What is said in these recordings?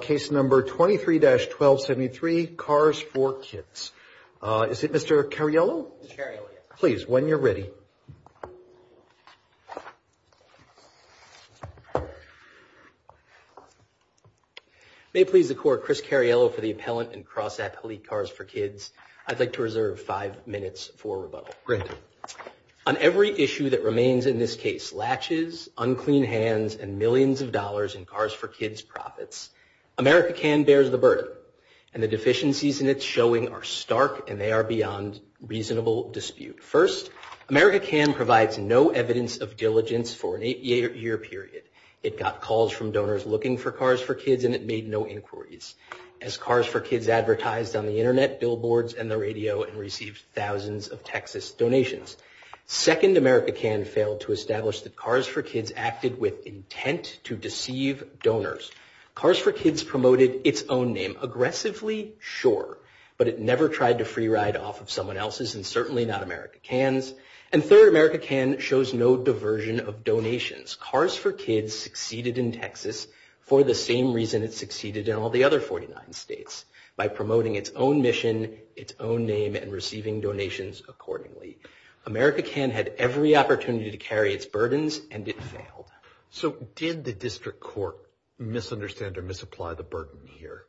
Case number 23-1273, KARS 4 KIDS. Is it Mr. Cariello? Mr. Cariello, yes. Please, when you're ready. May it please the court, Chris Cariello for the appellant in CrossApp Elite KARS 4 KIDS. I'd like to reserve five minutes for rebuttal. Granted. On every issue that remains in this case, latches, unclean hands, and millions of dollars in KARS 4 KIDS profits, AMERICA CAN bears the burden. And the deficiencies in its showing are stark, and they are beyond reasonable dispute. First, AMERICA CAN provides no evidence of diligence for an eight-year period. It got calls from donors looking for KARS 4 KIDS, and it made no inquiries. As KARS 4 KIDS advertised on the internet, billboards, and the radio, it received thousands of Texas donations. Second, AMERICA CAN failed to establish that KARS 4 KIDS acted with intent to deceive donors. KARS 4 KIDS promoted its own name. Aggressively, sure. But it never tried to free ride off of someone else's, and certainly not AMERICA CAN's. And third, AMERICA CAN shows no diversion of donations. KARS 4 KIDS succeeded in Texas for the same reason it succeeded in all the other 49 states, by promoting its own mission, its own name, and receiving donations accordingly. AMERICA CAN had every opportunity to carry its burdens, and it failed. So did the district court misunderstand or misapply the burden here?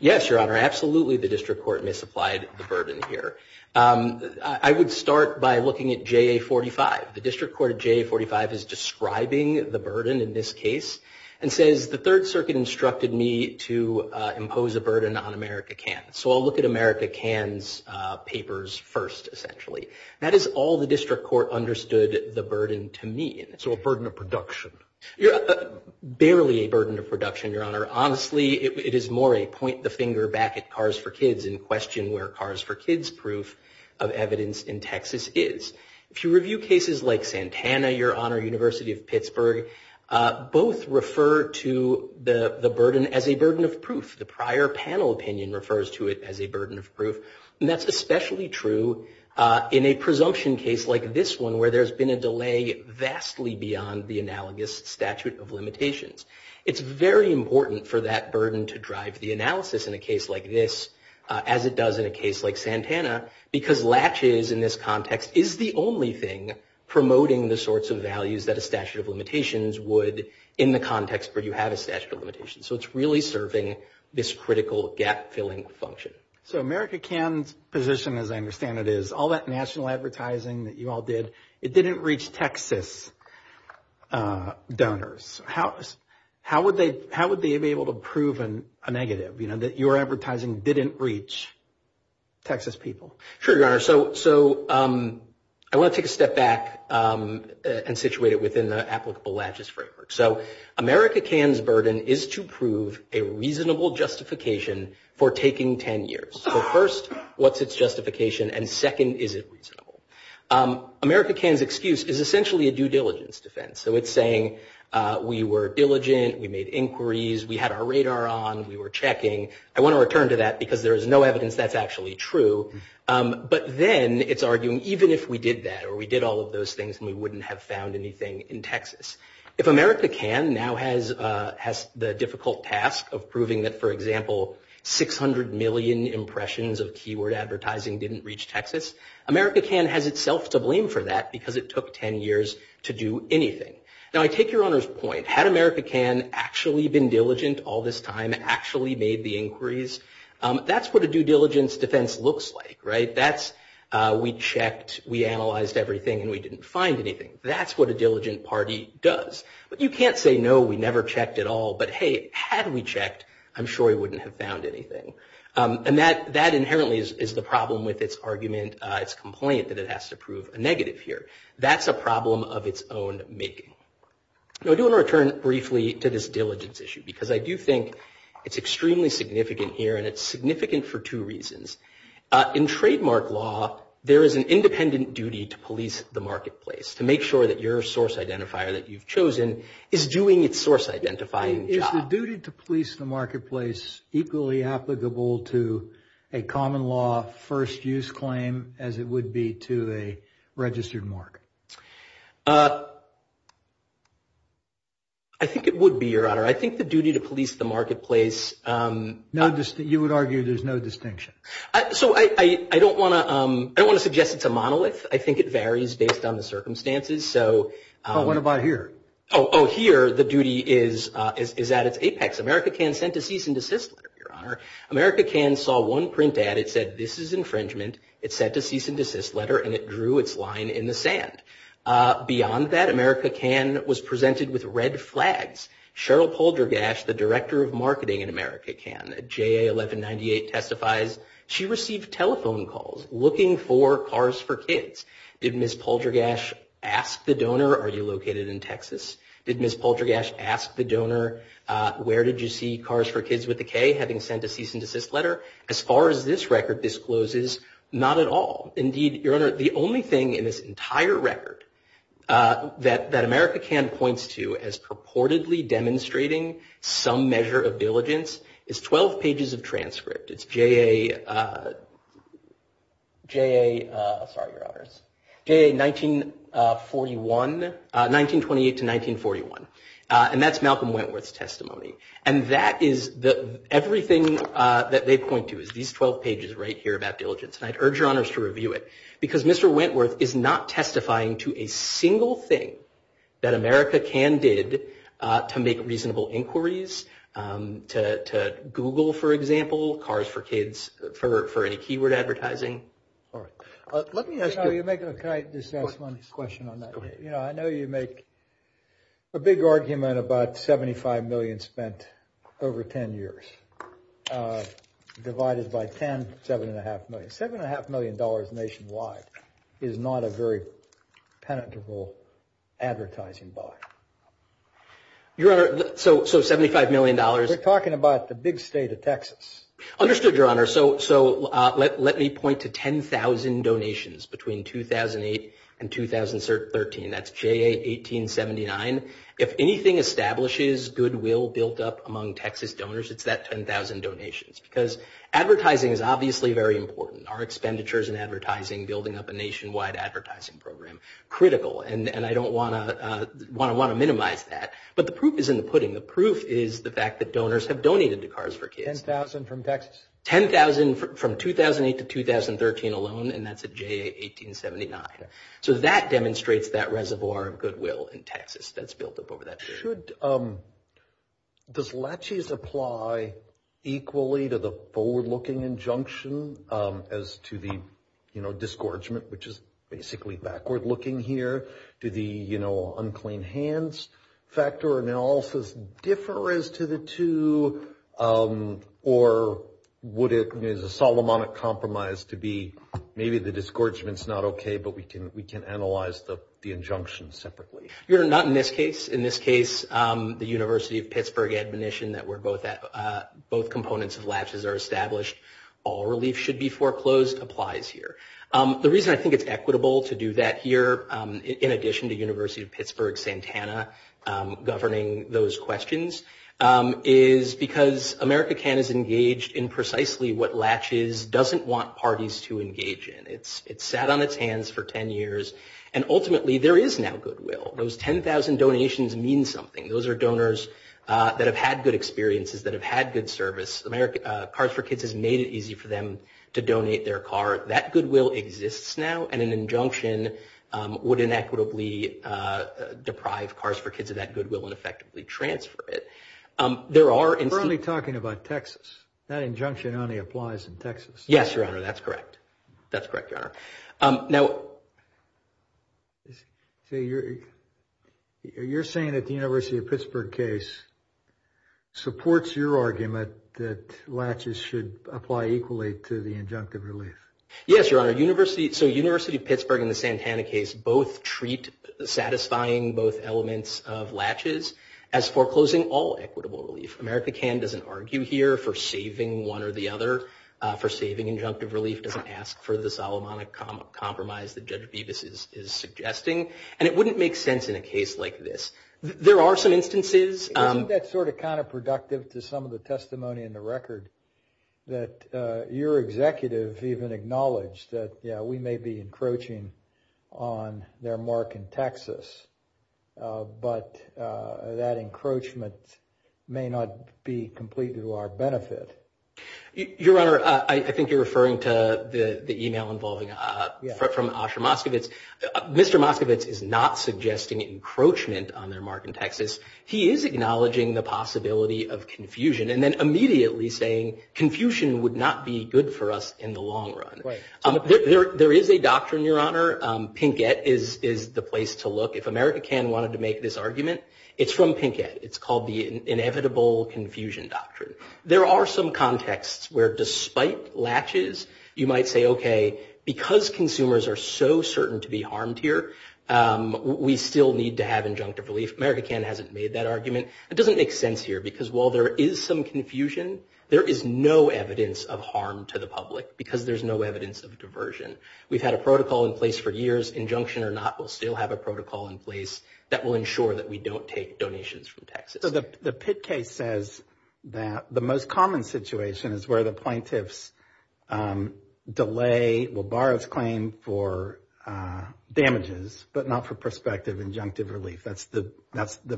Yes, Your Honor, absolutely the district court misapplied the burden here. I would start by looking at JA 45. The district court at JA 45 is describing the burden in this case, and says, the Third Circuit instructed me to impose a burden on AMERICA CAN. So I'll look at AMERICA CAN's papers first, essentially. That is all the district court understood the burden to mean. So a burden of production? Barely a burden of production, Your Honor. Honestly, it is more a point the finger back at KARS 4 KIDS in question where KARS 4 KIDS' proof of evidence in Texas is. If you review cases like Santana, Your Honor, University of Pittsburgh, both refer to the burden as a burden of proof. The prior panel opinion refers to it as a burden of proof. And that's especially true in a presumption case like this one where there's been a delay vastly beyond the analogous statute of limitations. It's very important for that burden to drive the analysis in a case like this, as it does in a case like Santana, because latches in this context is the only thing promoting the sorts of values that a statute of limitations would in the context where you have a statute of limitations. So it's really serving this critical gap-filling function. So AmericaCAN's position, as I understand it, is all that national advertising that you all did, it didn't reach Texas donors. How would they be able to prove a negative, you know, that your advertising didn't reach Texas people? Sure, Your Honor. So I want to take a step back and situate it within the applicable latches framework. So AmericaCAN's burden is to prove a reasonable justification for taking 10 years. So first, what's its justification? And second, is it reasonable? AmericaCAN's excuse is essentially a due diligence defense. So it's saying, we were diligent, we made inquiries, we had our radar on, we were checking. I want to return to that because there is no evidence that's actually true. But then it's arguing, even if we did that, or we did all of those things and we wouldn't have found anything in Texas. If AmericaCAN now has the difficult task of proving that, for example, 600 million impressions of keyword advertising didn't reach Texas, AmericaCAN has itself to blame for that because it took 10 years to do anything. Now, I take Your Honor's point. Had AmericaCAN actually been diligent all this time, actually made the inquiries? That's what a due diligence defense looks like, right? That's, we checked, we analyzed everything, and we didn't find anything. That's what a diligent party does. But you can't say, no, we never checked at all, but hey, had we checked, I'm sure we wouldn't have found anything. And that inherently is the problem with its argument, its complaint, that it has to prove a negative here. That's a problem of its own making. Now, I do want to return briefly to this diligence issue because I do think it's extremely significant here, and it's significant for two reasons. In trademark law, there is an independent duty to police the marketplace, to make sure that your source identifier that you've chosen is doing its source identifying job. Is the duty to police the marketplace equally applicable to a common law first use claim as it would be to a registered mark? I think it would be, Your Honor. I think the duty to police the marketplace. No, you would argue there's no distinction. So I don't want to suggest it's a monolith. I think it varies based on the circumstances. So what about here? Oh, here, the duty is at its apex. America Can sent a cease and desist letter, Your Honor. America Can saw one print ad. It said, this is infringement. It sent a cease and desist letter, and it drew its line in the sand. Beyond that, America Can was presented with red flags. Cheryl Poldergash, the director of marketing in America Can, JA 1198 testifies, she received telephone calls looking for cars for kids. Did Ms. Poldergash ask the donor, are you located in Texas? Did Ms. Poldergash ask the donor, where did you see cars for kids with a K, having sent a cease and desist letter? As far as this record discloses, not at all. Indeed, Your Honor, the only thing in this entire record that America Can points to as purportedly demonstrating some measure of diligence is 12 pages of transcript. It's JA, sorry, Your Honors, JA 1921, 1928 to 1941. And that's Malcolm Wentworth's testimony. And that is everything that they point to is these 12 pages right here about diligence. And I'd urge Your Honors to review it because Mr. Wentworth is not testifying to a single thing that America Can did to make reasonable inquiries to Google, for example, cars for kids, for any keyword advertising. All right. Let me ask you- Can I just ask one question on that? You know, I know you make a big argument about 75 million spent over 10 years divided by 10, seven and a half million. Seven and a half million dollars nationwide is not a very penetrable advertising buy. Your Honor, so $75 million- We're talking about the big state of Texas. Understood, Your Honor. So let me point to 10,000 donations between 2008 and 2013. That's JA 1879. If anything establishes goodwill built up among Texas donors, it's that 10,000 donations because advertising is obviously very important. Our expenditures in advertising building up a nationwide advertising program, critical. And I don't want to minimize that. But the proof is in the pudding. The proof is the fact that donors have donated to Cars for Kids. 10,000 from Texas? 10,000 from 2008 to 2013 alone, and that's a JA 1879. So that demonstrates that reservoir of goodwill in Texas that's built up over that period. Does laches apply equally to the forward-looking injunction as to the, you know, disgorgement, which is basically backward-looking here? Do the, you know, unclean hands factor analysis differ as to the two? Or would it, you know, is a Solomonic compromise to be maybe the disgorgement's not okay, but we can analyze the injunction separately? Your Honor, not in this case. In this case, the University of Pittsburgh admonition that where both components of laches are established, all relief should be foreclosed applies here. The reason I think it's equitable to do that here, in addition to University of Pittsburgh Santana governing those questions, is because America Can is engaged in precisely what laches doesn't want parties to engage in. It's sat on its hands for 10 years, and ultimately there is now goodwill. Those 10,000 donations mean something. Those are donors that have had good experiences, that have had good service. Cars for Kids has made it easy for them to donate their car. That goodwill exists now, and an injunction would inequitably deprive Cars for Kids of that goodwill, and effectively transfer it. There are- We're only talking about Texas. That injunction only applies in Texas. Yes, Your Honor, that's correct. That's correct, Your Honor. Now- You're saying that the University of Pittsburgh case supports your argument that laches should apply equally to the injunctive relief? Yes, Your Honor. So University of Pittsburgh and the Santana case both treat satisfying both elements of laches as foreclosing all equitable relief. America Can doesn't argue here for saving one or the other, for saving injunctive relief, doesn't ask for the Solomonic Compromise that Judge Bevis is suggesting, and it wouldn't make sense in a case like this. There are some instances- Isn't that sort of counterproductive to some of the testimony in the record that your executive even acknowledged that, yeah, we may be encroaching on their mark in Texas, but that encroachment may not be complete to our benefit. Your Honor, I think you're referring to the email involving from Asher Moskovitz. Mr. Moskovitz is not suggesting encroachment on their mark in Texas. He is acknowledging the possibility of confusion, and then immediately saying confusion would not be good for us in the long run. There is a doctrine, Your Honor. Pinkett is the place to look. If America Can wanted to make this argument, it's from Pinkett. It's called the Inevitable Confusion Doctrine. There are some contexts where despite laches, you might say, okay, because consumers are so certain to be harmed here, we still need to have injunctive relief. America Can hasn't made that argument. It doesn't make sense here, because while there is some confusion, there is no evidence of harm to the public, because there's no evidence of diversion. We've had a protocol in place for years. Injunction or not, we'll still have a protocol in place that will ensure that we don't take donations from Texas. So the Pitt case says that the most common situation is where the plaintiffs delay, will borrow its claim for damages, but not for prospective injunctive relief. That's the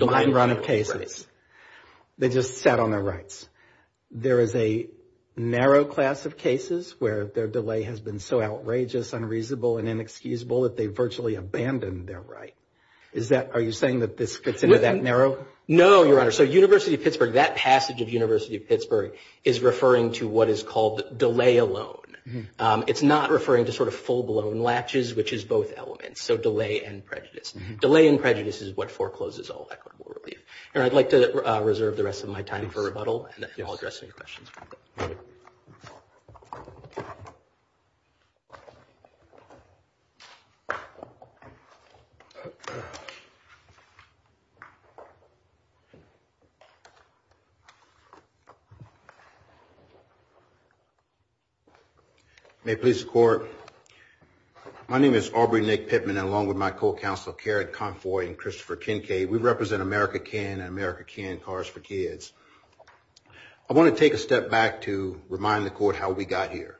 mind run of cases. They just sat on their rights. There is a narrow class of cases where their delay has been so outrageous, unreasonable, and inexcusable that they virtually abandoned their right. Is that, are you saying that this fits into that narrow? No, Your Honor. So University of Pittsburgh, that passage of University of Pittsburgh is referring to what is called delay alone. It's not referring to sort of full blown laches, which is both elements. So delay and prejudice. Delay and prejudice is what forecloses all equitable relief. And I'd like to reserve the rest of my time for rebuttal and I'll address any questions. May it please the court. My name is Aubrey Nick Pittman and along with my co-counsel, Karen Confoy and Christopher Kincaid, we represent America Can and America Can Cars for Kids. I wanna take a step back to remind the court how we got here.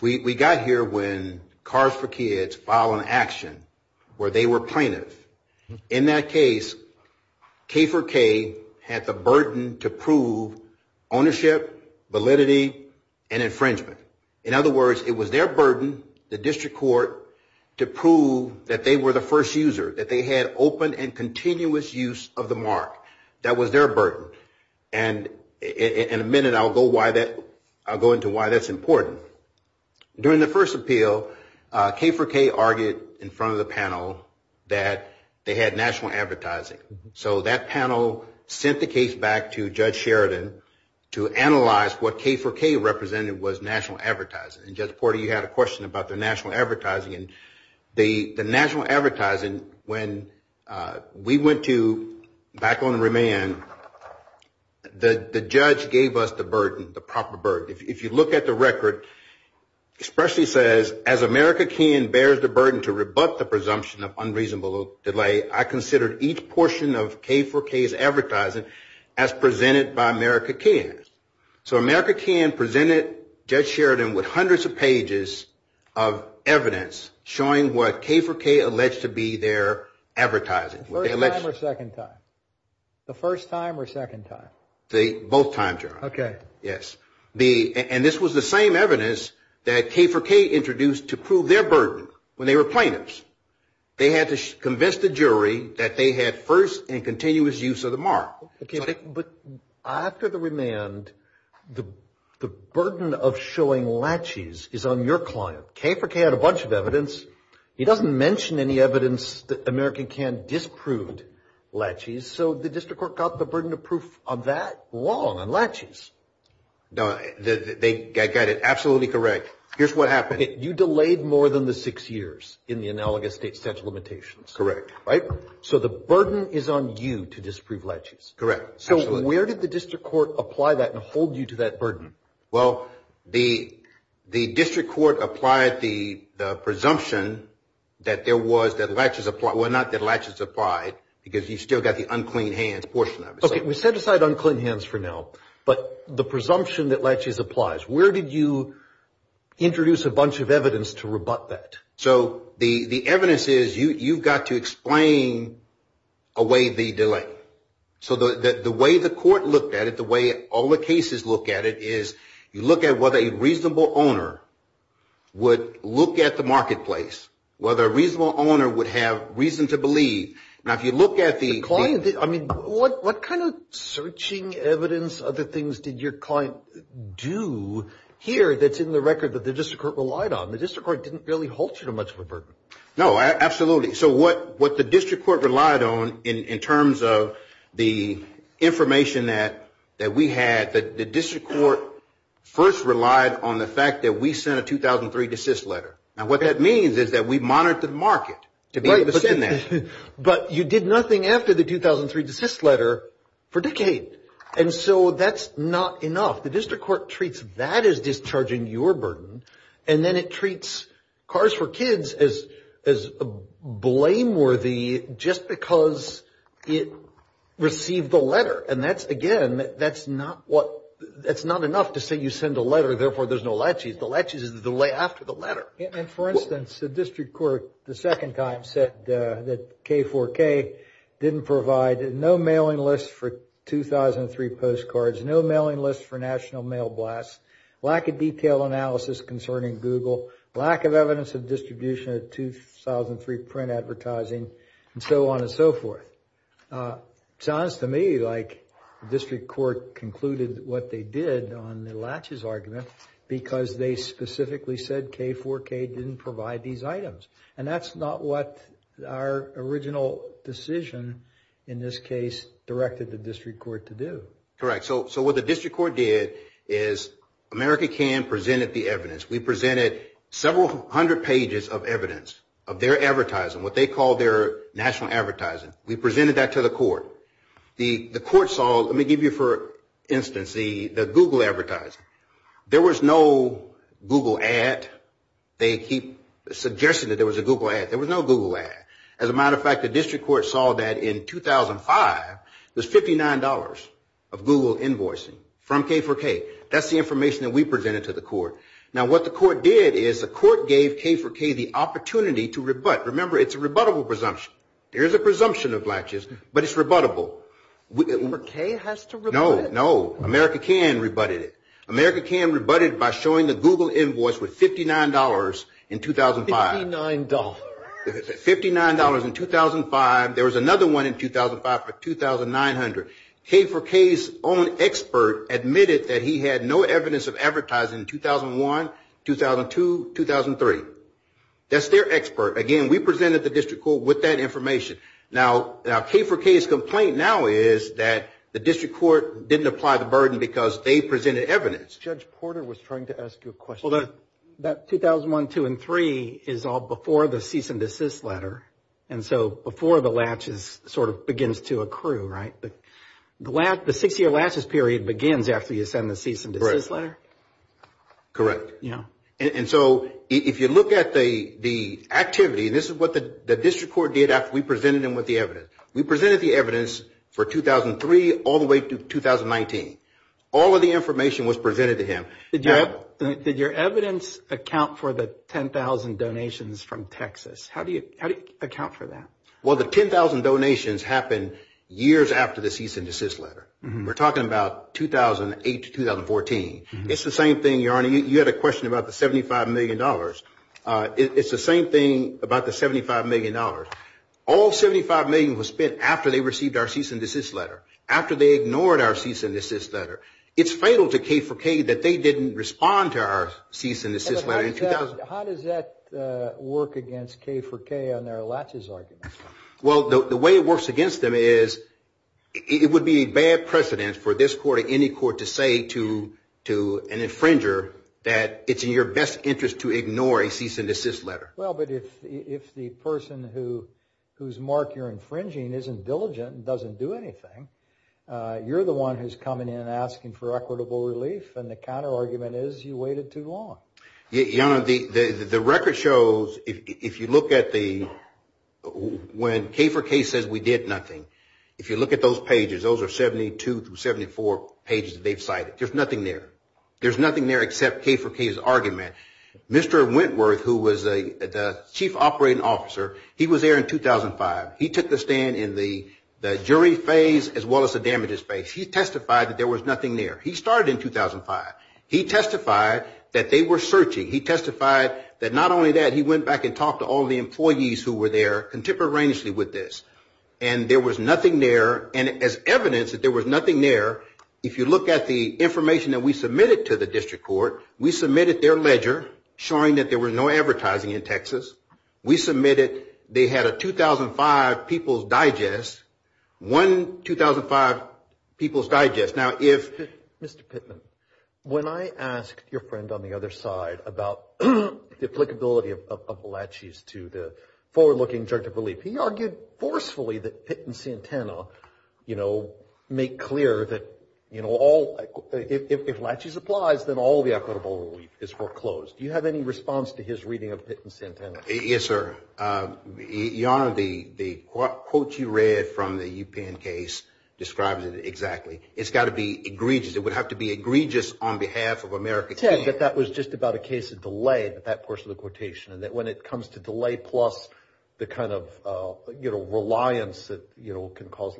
We got here when Cars for Kids filed an action where they were plaintiff. In that case, K4K had the burden to prove ownership, validity, and infringement. In other words, it was their burden, the district court, to prove that they were the first user, that they had open and continuous use of the mark. That was their burden. And in a minute, I'll go into why that's important. During the first appeal, K4K argued in front of the panel that they had national advertising. So that panel sent the case back to Judge Sheridan to analyze what K4K represented was national advertising. And Judge Porter, you had a question about the national advertising. The national advertising, when we went to back on remand, the judge gave us the burden, the proper burden. If you look at the record, it especially says, as America Can bears the burden to rebut the presumption of unreasonable delay, I consider each portion of K4K's advertising as presented by America Can. So America Can presented Judge Sheridan with hundreds of pages of evidence showing what K4K alleged to be their advertising. Were they alleged? The first time or second time? The first time or second time? Both times, Your Honor. Okay. Yes. And this was the same evidence that K4K introduced to prove their burden when they were plaintiffs. They had to convince the jury that they had first and continuous use of the mark. But after the remand, the burden of showing latches is on your client. K4K had a bunch of evidence. He doesn't mention any evidence that America Can disproved latches, so the district court got the burden of proof on that long on latches. No, I get it. Absolutely correct. Here's what happened. You delayed more than the six years in the analogous state statute of limitations. Correct. Right? So the burden is on you to disprove latches. Correct, absolutely. So where did the district court apply that and hold you to that burden? Well, the district court applied the presumption that there was, that latches applied, well, not that latches applied, because you've still got the unclean hands portion of it. Okay, we set aside unclean hands for now, but the presumption that latches applies, where did you introduce a bunch of evidence to rebut that? So the evidence is, you've got to explain away the delay. So the way the court looked at it, the way all the cases look at it, is you look at whether a reasonable owner would look at the marketplace, whether a reasonable owner would have reason to believe. Now, if you look at the- I mean, what kind of searching evidence, other things did your client do here that's in the record that the district court relied on? The district court didn't really hold you to much of a burden. No, absolutely. So what the district court relied on in terms of the information that we had, the district court first relied on the fact that we sent a 2003 desist letter. Now what that means is that we monitored the market to be able to send that. But you did nothing after the 2003 desist letter for decades and so that's not enough. The district court treats that as discharging your burden and then it treats Cars for Kids as blameworthy just because it received the letter. And that's, again, that's not enough to say you send a letter, therefore there's no laches. The laches is the delay after the letter. And for instance, the district court, the second time, said that K4K didn't provide no mailing list for 2003 postcards, no mailing list for National Mail Blast, lack of detailed analysis concerning Google, lack of evidence of distribution of 2003 print advertising, and so on and so forth. Sounds to me like the district court concluded what they did on the laches argument because they specifically said K4K didn't provide these items. And that's not what our original decision in this case directed the district court to do. Correct, so what the district court did is America Can presented the evidence. We presented several hundred pages of evidence of their advertising, what they call their national advertising. We presented that to the court. The court saw, let me give you for instance, the Google advertising. There was no Google ad. They keep suggesting that there was a Google ad. There was no Google ad. As a matter of fact, the district court saw that in 2005, there's $59 of Google invoicing from K4K. That's the information that we presented to the court. Now, what the court did is the court gave K4K the opportunity to rebut. Remember, it's a rebuttable presumption. There is a presumption of laches, but it's rebuttable. K4K has to rebut it? No, no, America Can rebutted it. America Can rebutted by showing the Google invoice with $59 in 2005. $59. $59 in 2005. There was another one in 2005 for $2,900. K4K's own expert admitted that he had no evidence of advertising in 2001, 2002, 2003. That's their expert. Again, we presented the district court with that information. Now, K4K's complaint now is that the district court didn't apply the burden because they presented evidence. Judge Porter was trying to ask you a question. That 2001, 2002, and 2003 is all before the cease and desist letter. And so before the laches sort of begins to accrue, right? The six-year laches period begins after you send the cease and desist letter? Correct. And so if you look at the activity, this is what the district court did after we presented him with the evidence. We presented the evidence for 2003 all the way to 2019. All of the information was presented to him. Did your evidence account for the 10,000 donations from Texas? How do you account for that? Well, the 10,000 donations happened years after the cease and desist letter. We're talking about 2008 to 2014. It's the same thing, Your Honor. You had a question about the $75 million. It's the same thing about the $75 million. All $75 million was spent after they received our cease and desist letter, after they ignored our cease and desist letter. It's fatal to K4K that they didn't respond to our cease and desist letter in 2000. How does that work against K4K on their latches argument? Well, the way it works against them is it would be a bad precedent for this court or any court to say to an infringer that it's in your best interest to ignore a cease and desist letter. Well, but if the person whose mark you're infringing isn't diligent and doesn't do anything, you're the one who's coming in asking for equitable relief. And the counterargument is you waited too long. Your Honor, the record shows if you look at the when K4K says we did nothing, if you look at those pages, those are 72 through 74 pages that they've cited. There's nothing there. There's nothing there except K4K's argument. Mr. Wentworth, who was the chief operating officer, he was there in 2005. He took the stand in the jury phase as well as the damages phase. He testified that there was nothing there. He started in 2005. He testified that they were searching. He testified that not only that, he went back and talked to all the employees who were there contemporaneously with this. And there was nothing there. And as evidence that there was nothing there, if you look at the information that we submitted to the district court, we submitted their ledger showing that there was no advertising in Texas. We submitted they had a 2005 People's Digest, one 2005 People's Digest. Mr. Pittman, when I asked your friend on the other side about the applicability of laches to the forward-looking judgment of relief, he argued forcefully that Pitt and Santana make clear that if laches applies, then all the equitable relief is foreclosed. Do you have any response to his reading of Pitt and Santana? Yes, sir. Your Honor, the quote you read from the UPenn case describes it exactly. It's got to be egregious. It would have to be egregious on behalf of America. Ted, but that was just about a case of delay with that portion of the quotation, and that when it comes to delay plus the kind of reliance that can cause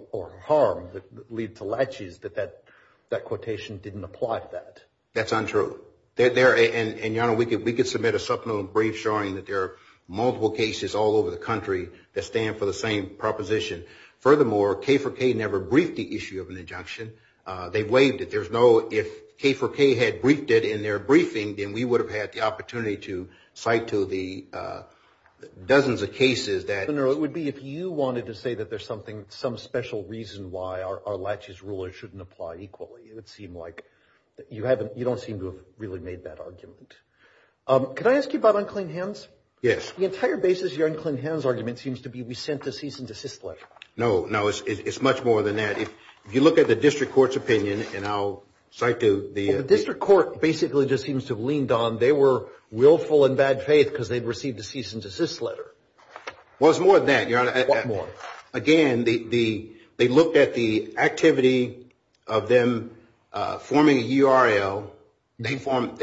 harm that lead to laches, that that quotation didn't apply to that. That's untrue. And Your Honor, we could submit a supplemental brief showing that there are multiple cases all over the country that stand for the same proposition. Furthermore, K for K never briefed the issue of an injunction. They waived it. There's no, if K for K had briefed it in their briefing, then we would have had the opportunity to cite to the dozens of cases that. Your Honor, it would be, if you wanted to say that there's some special reason why our laches ruler shouldn't apply equally, it would seem like you don't seem to have really made that argument. Can I ask you about unclean hands? Yes. The entire basis of your unclean hands argument seems to be we sent the cease and desist letter. No, no, it's much more than that. If you look at the district court's opinion, and I'll cite to the. The district court basically just seems to have leaned on. They were willful in bad faith because they'd received the cease and desist letter. Well, it's more than that, Your Honor. Again, they looked at the activity of them forming a URL. They formed,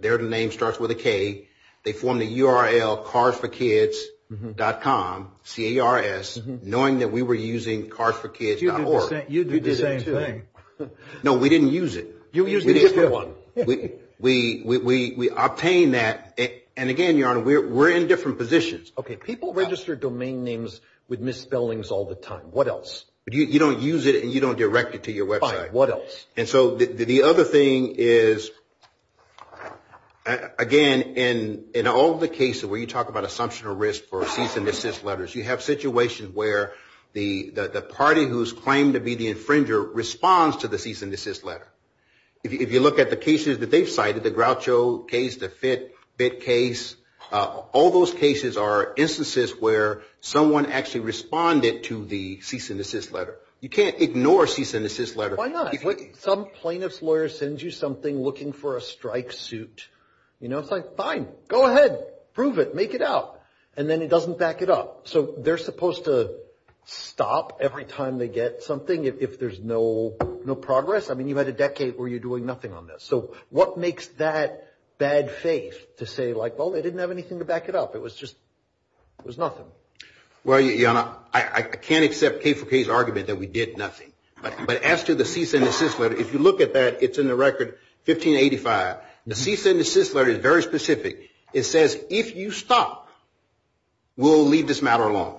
their name starts with a K. They formed a URL, carsforkids.com, C-A-R-S, knowing that we were using carsforkids.org. You did the same thing. No, we didn't use it. You used a different one. We obtained that. And again, Your Honor, we're in different positions. OK, people register domain names with misspellings all the time. What else? You don't use it, and you don't direct it to your website. What else? And so the other thing is, again, in all the cases where you talk about assumption or risk for cease and desist letters, you have situations where the party who's claimed to be the infringer responds to the cease and desist letter. If you look at the cases that they've cited, the Groucho case, the Fitt case, all those cases are instances where someone actually responded to the cease and desist letter. You can't ignore a cease and desist letter. Why not? Some plaintiff's lawyer sends you something looking for a strike suit. You know, it's like, fine, go ahead. Prove it. Make it out. And then it doesn't back it up. So they're supposed to stop every time they get something if there's no progress. I mean, you've had a decade where you're doing nothing on this. So what makes that bad faith to say, like, well, they didn't have anything to back it up? It was just, it was nothing. Well, Your Honor, I can't accept K for K's argument that we did nothing. But as to the cease and desist letter, if you look at that, it's in the record 1585. The cease and desist letter is very specific. It says, if you stop, we'll leave this matter alone.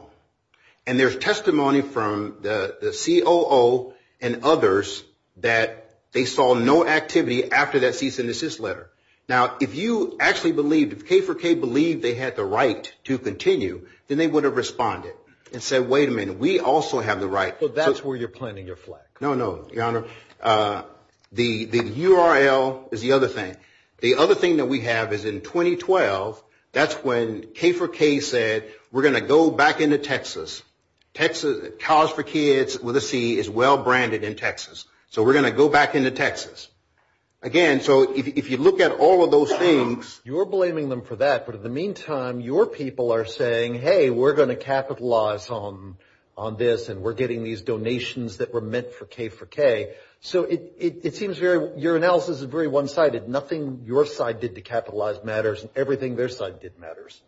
And there's testimony from the COO and others that they saw no activity after that cease and desist letter. Now, if you actually believed, if K for K believed they had the right to continue, then they would have responded and said, wait a minute. We also have the right. So that's where you're planting your flag. No, no, Your Honor. The URL is the other thing. The other thing that we have is in 2012. That's when K for K said, we're going to go back into Texas. College for Kids with a C is well-branded in Texas. So we're going to go back into Texas. Again, so if you look at all of those things. You're blaming them for that. But in the meantime, your people are saying, hey, we're going to capitalize on this. And we're getting these donations that were meant for K for K. So it seems very, your analysis is very one-sided. Nothing your side did to capitalize matters. And everything their side did matters.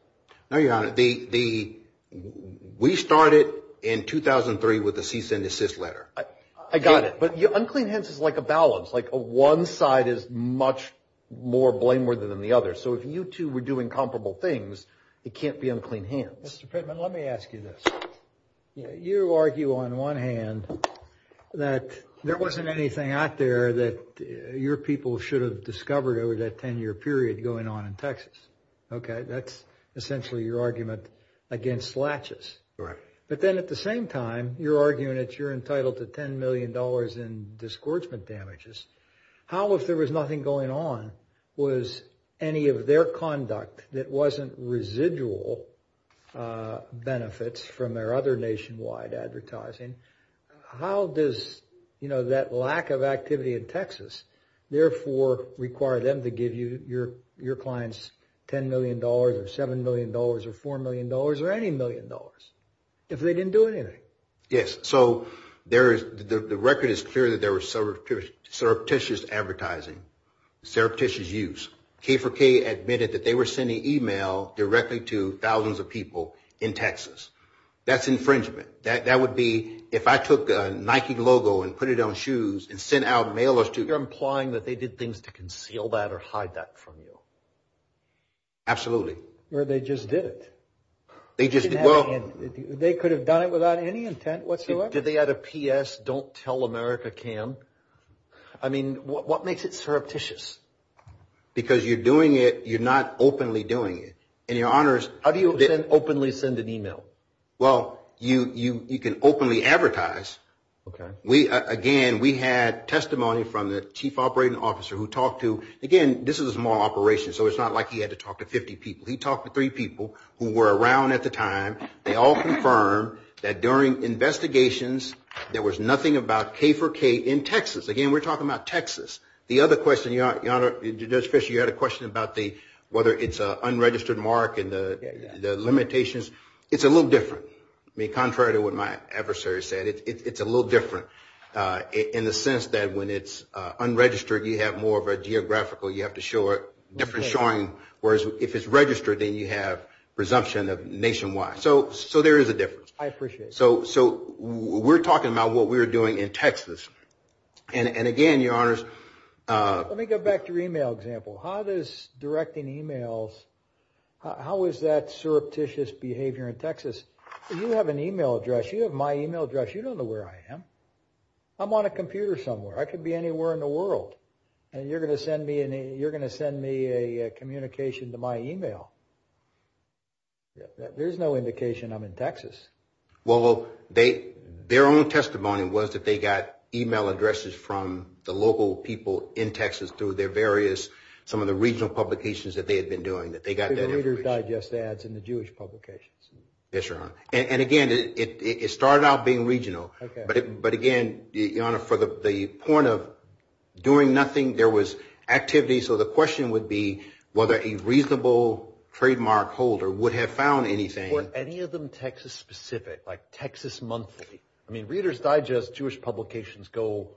No, Your Honor. The, we started in 2003 with a cease and desist letter. I got it. But unclean hands is like a balance. Like one side is much more blameworthy than the other. So if you two were doing comparable things, it can't be unclean hands. Mr. Pittman, let me ask you this. You argue on one hand that there wasn't anything out there that your people should have discovered over that 10 year period going on in Texas. Okay, that's essentially your argument against latches. But then at the same time, you're arguing that you're entitled to $10 million in disgorgement damages. How, if there was nothing going on, was any of their conduct that wasn't residual benefits from their other nationwide advertising, how does, you know, that lack of activity in Texas therefore require them to give you, your clients $10 million or $7 million or $4 million or any million dollars if they didn't do anything? Yes, so there is, the record is clear that there were surreptitious advertising, surreptitious use. K4K admitted that they were sending email directly to thousands of people in Texas. That's infringement. That would be, if I took a Nike logo and put it on shoes and sent out mailers to- You're implying that they did things to conceal that or hide that from you. Absolutely. Or they just did it. They just, well- They could have done it without any intent whatsoever. Did they add a PS, don't tell America Cam? I mean, what makes it surreptitious? Because you're doing it, you're not openly doing it. And your honors- How do you openly send an email? Well, you can openly advertise. Okay. Again, we had testimony from the chief operating officer who talked to, again, this is a small operation, so it's not like he had to talk to 50 people. He talked to three people who were around at the time. They all confirmed that during investigations, there was nothing about K4K in Texas. Again, we're talking about Texas. The other question, your honor, Judge Fisher, you had a question about whether it's an unregistered mark and the limitations. It's a little different. I mean, contrary to what my adversary said, it's a little different in the sense that when it's unregistered, you have more of a geographical, you have to show a different showing. Whereas if it's registered, then you have presumption of nationwide. So there is a difference. I appreciate it. So we're talking about what we're doing in Texas. And again, your honors. Let me go back to your email example. How does directing emails, how is that surreptitious behavior in Texas? You have an email address. You have my email address. You don't know where I am. I'm on a computer somewhere. I could be anywhere in the world. And you're gonna send me a communication to my email. There's no indication I'm in Texas. Well, their own testimony was that they got email addresses from the local people in Texas through their various, some of the regional publications that they had been doing, that they got that information. The Reader's Digest ads in the Jewish publications. Yes, your honor. And again, it started out being regional. But again, your honor, for the point of doing nothing, there was activity. So the question would be whether a reasonable trademark holder would have found anything. Were any of them Texas specific, like Texas monthly? I mean, Reader's Digest Jewish publications go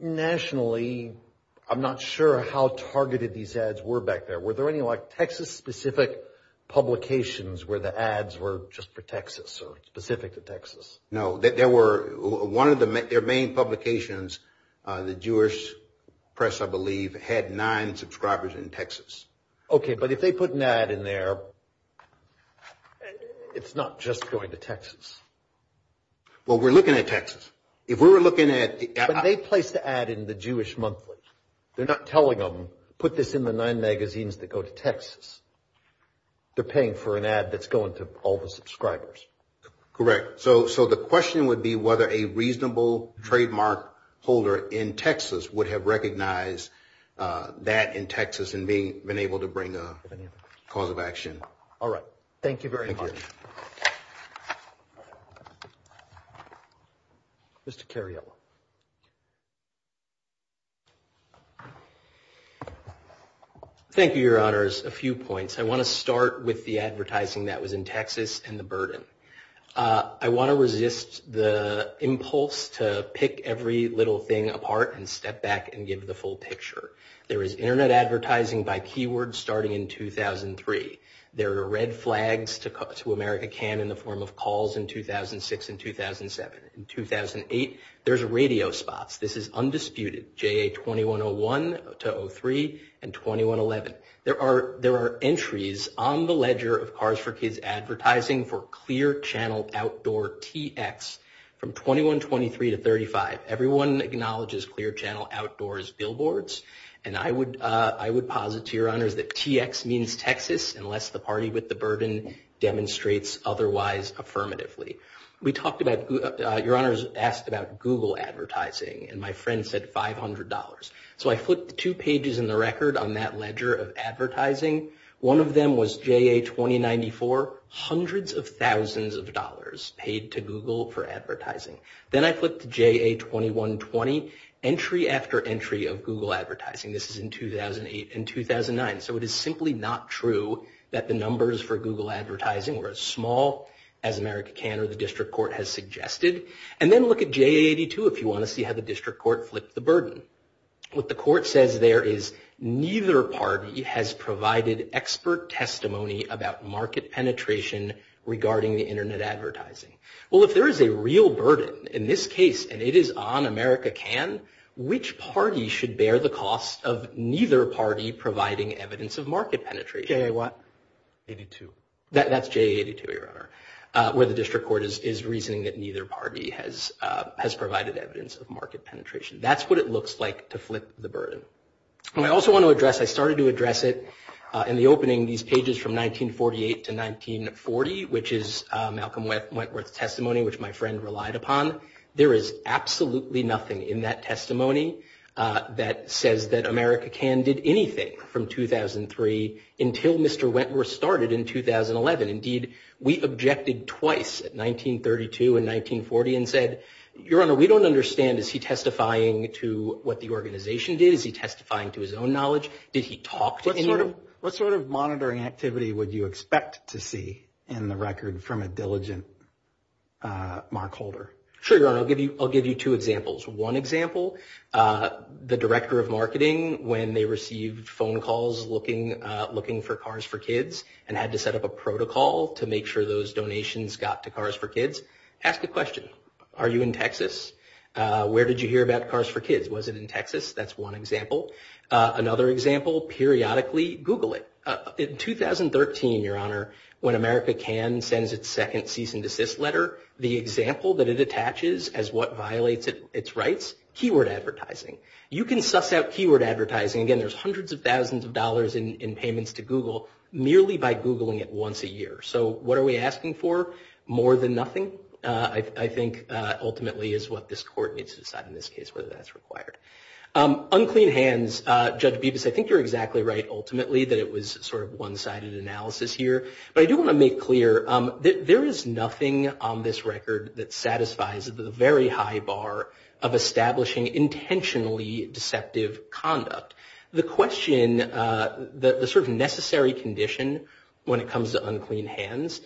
nationally. I'm not sure how targeted these ads were back there. Were there any like Texas specific publications where the ads were just for Texas or specific to Texas? No, there were, one of their main publications, the Jewish Press, I believe, had nine subscribers in Texas. Okay, but if they put an ad in there, it's not just going to Texas. Well, we're looking at Texas. If we were looking at... But they placed the ad in the Jewish monthly. They're not telling them, put this in the nine magazines that go to Texas. They're paying for an ad that's going to all the subscribers. Correct. So the question would be whether a reasonable trademark holder in Texas would have recognized that in Texas and been able to bring a cause of action. All right. Thank you very much. Thank you. Thank you. Mr. Cariello. Thank you, your honors. A few points. I want to start with the advertising that was in Texas and the burden. I want to resist the impulse to pick every little thing apart and step back and give the full picture. There is internet advertising by keyword starting in 2003. There are red flags to America Can in the form of calls in 2006 and 2007. In 2008, there's radio spots. This is undisputed. JA 2101 to 03 and 2111. There are entries on the ledger of Cars for Kids advertising for Clear Channel Outdoor TX from 2123 to 35. Everyone acknowledges Clear Channel Outdoors billboards. And I would posit to your honors that TX means Texas unless the party with the burden demonstrates otherwise affirmatively. We talked about, your honors asked about Google advertising and my friend said $500. So I flipped two pages in the record on that ledger of advertising. One of them was JA 2094. Hundreds of thousands of dollars paid to Google for advertising. Then I flipped to JA 2120. Entry after entry of Google advertising. This is in 2008 and 2009. So it is simply not true that the numbers for Google advertising were as small as America Can or the district court has suggested. And then look at JA 82 if you want to see how the district court flipped the burden. What the court says there is neither party has provided expert testimony about market penetration regarding the internet advertising. Well, if there is a real burden in this case and it is on America Can, which party should bear the cost of neither party providing evidence of market penetration? JA what? 82. That's JA 82, your honor. Where the district court is reasoning that neither party has provided evidence of market penetration. That's what it looks like to flip the burden. And I also want to address, I started to address it in the opening, these pages from 1948 to 1940, which my friend relied upon. There is absolutely nothing in that testimony that says that America Can did anything from 2003 until Mr. Wentworth started in 2011. Indeed, we objected twice at 1932 and 1940 and said, your honor, we don't understand. Is he testifying to what the organization did? Is he testifying to his own knowledge? Did he talk to anyone? What sort of monitoring activity would you expect to see in the record from a diligent Mark Holder? Sure, your honor. I'll give you two examples. One example, the director of marketing, when they received phone calls looking for Cars for Kids and had to set up a protocol to make sure those donations got to Cars for Kids, ask the question, are you in Texas? Where did you hear about Cars for Kids? Was it in Texas? That's one example. Another example, periodically Google it. In 2013, your honor, when America Can sends its second cease and desist letter, the example that it attaches as what violates its rights, keyword advertising. You can suss out keyword advertising, again, there's hundreds of thousands of dollars in payments to Google, merely by Googling it once a year. So what are we asking for? More than nothing, I think ultimately is what this court needs to decide in this case, whether that's required. Unclean hands, Judge Bibas, I think you're exactly right, ultimately, that it was sort of one-sided analysis here. But I do want to make clear that there is nothing on this record that satisfies the very high bar of establishing intentionally deceptive conduct. The question, the sort of necessary condition when it comes to unclean hands,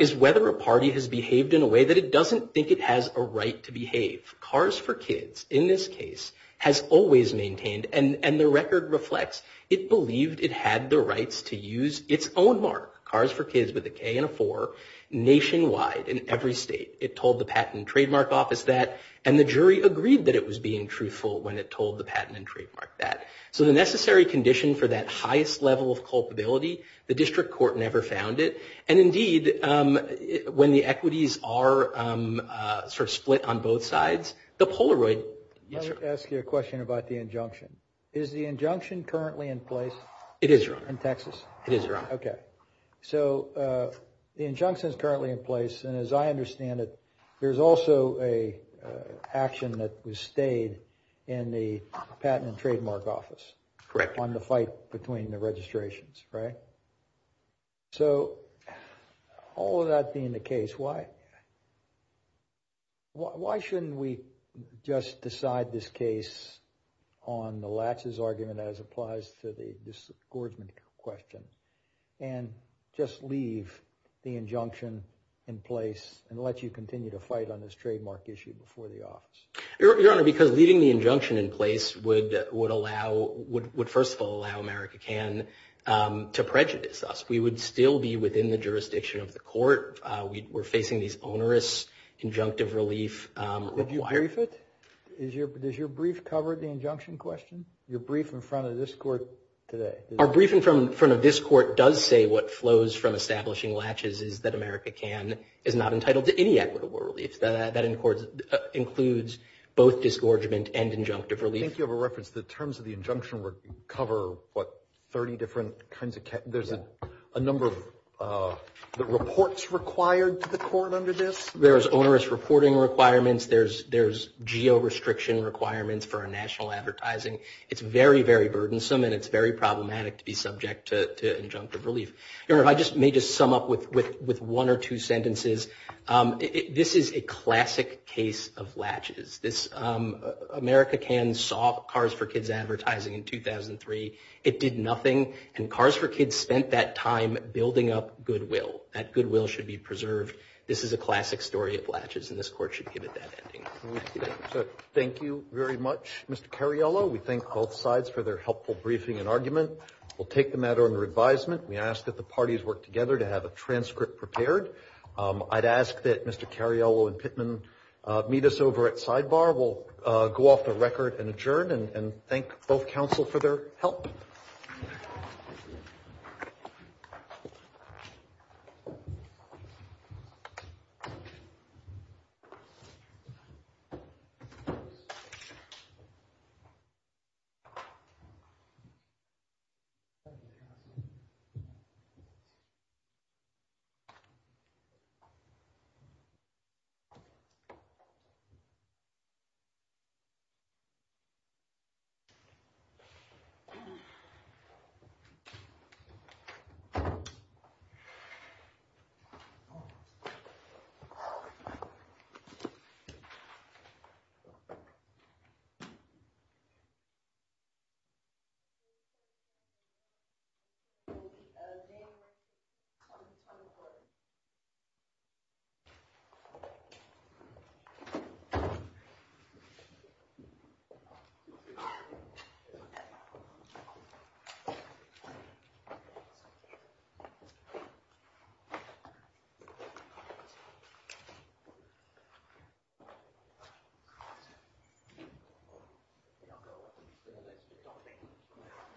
is whether a party has behaved in a way that it doesn't think it has a right to behave. Cars for Kids, in this case, has always maintained, and the record reflects, it believed it had the rights to use its own mark, Cars for Kids with a K and a four, nationwide, in every state. It told the Patent and Trademark Office that, and the jury agreed that it was being truthful when it told the Patent and Trademark that. So the necessary condition for that highest level of culpability, the district court never found it, and indeed, when the equities are sort of split on both sides, the Polaroid, yes, sir? I'd like to ask you a question about the injunction. Is the injunction currently in place? It is, Your Honor. In Texas? It is, Your Honor. Okay, so the injunction's currently in place, and as I understand it, there's also a action that was stayed in the Patent and Trademark Office. Correct. On the fight between the registrations, right? So, all of that being the case, why shouldn't we just decide this case on the latches argument, as applies to this Gordman question, and just leave the injunction in place and let you continue to fight on this trademark issue before the office? Your Honor, because leaving the injunction in place would allow, would first of all allow America Can to prejudice us. We would still be within the jurisdiction of the court. We're facing these onerous injunctive relief requirements. Did you brief it? Does your brief cover the injunction question? Your brief in front of this court today? Our brief in front of this court does say what flows from establishing latches is that America Can is not entitled to any equitable relief. That includes both disgorgement and injunctive relief. I think you have a reference. The terms of the injunction cover, what, 30 different kinds of, there's a number of, the reports required to the court under this? There's onerous reporting requirements. There's geo-restriction requirements for our national advertising. It's very, very burdensome and it's very problematic to be subject to injunctive relief. Your Honor, if I just may just sum up with one or two sentences. This is a classic case of latches. America Can saw Cars for Kids advertising in 2003. It did nothing and Cars for Kids spent that time building up goodwill. That goodwill should be preserved. This is a classic story of latches and this court should give it that ending. Thank you very much, Mr. Cariello. We thank both sides for their helpful briefing and argument. We'll take the matter under advisement. We ask that the parties work together to have a transcript prepared. I'd ask that Mr. Cariello and Pittman meet us over at Sidebar. We'll go off the record and adjourn and thank both counsel for their help.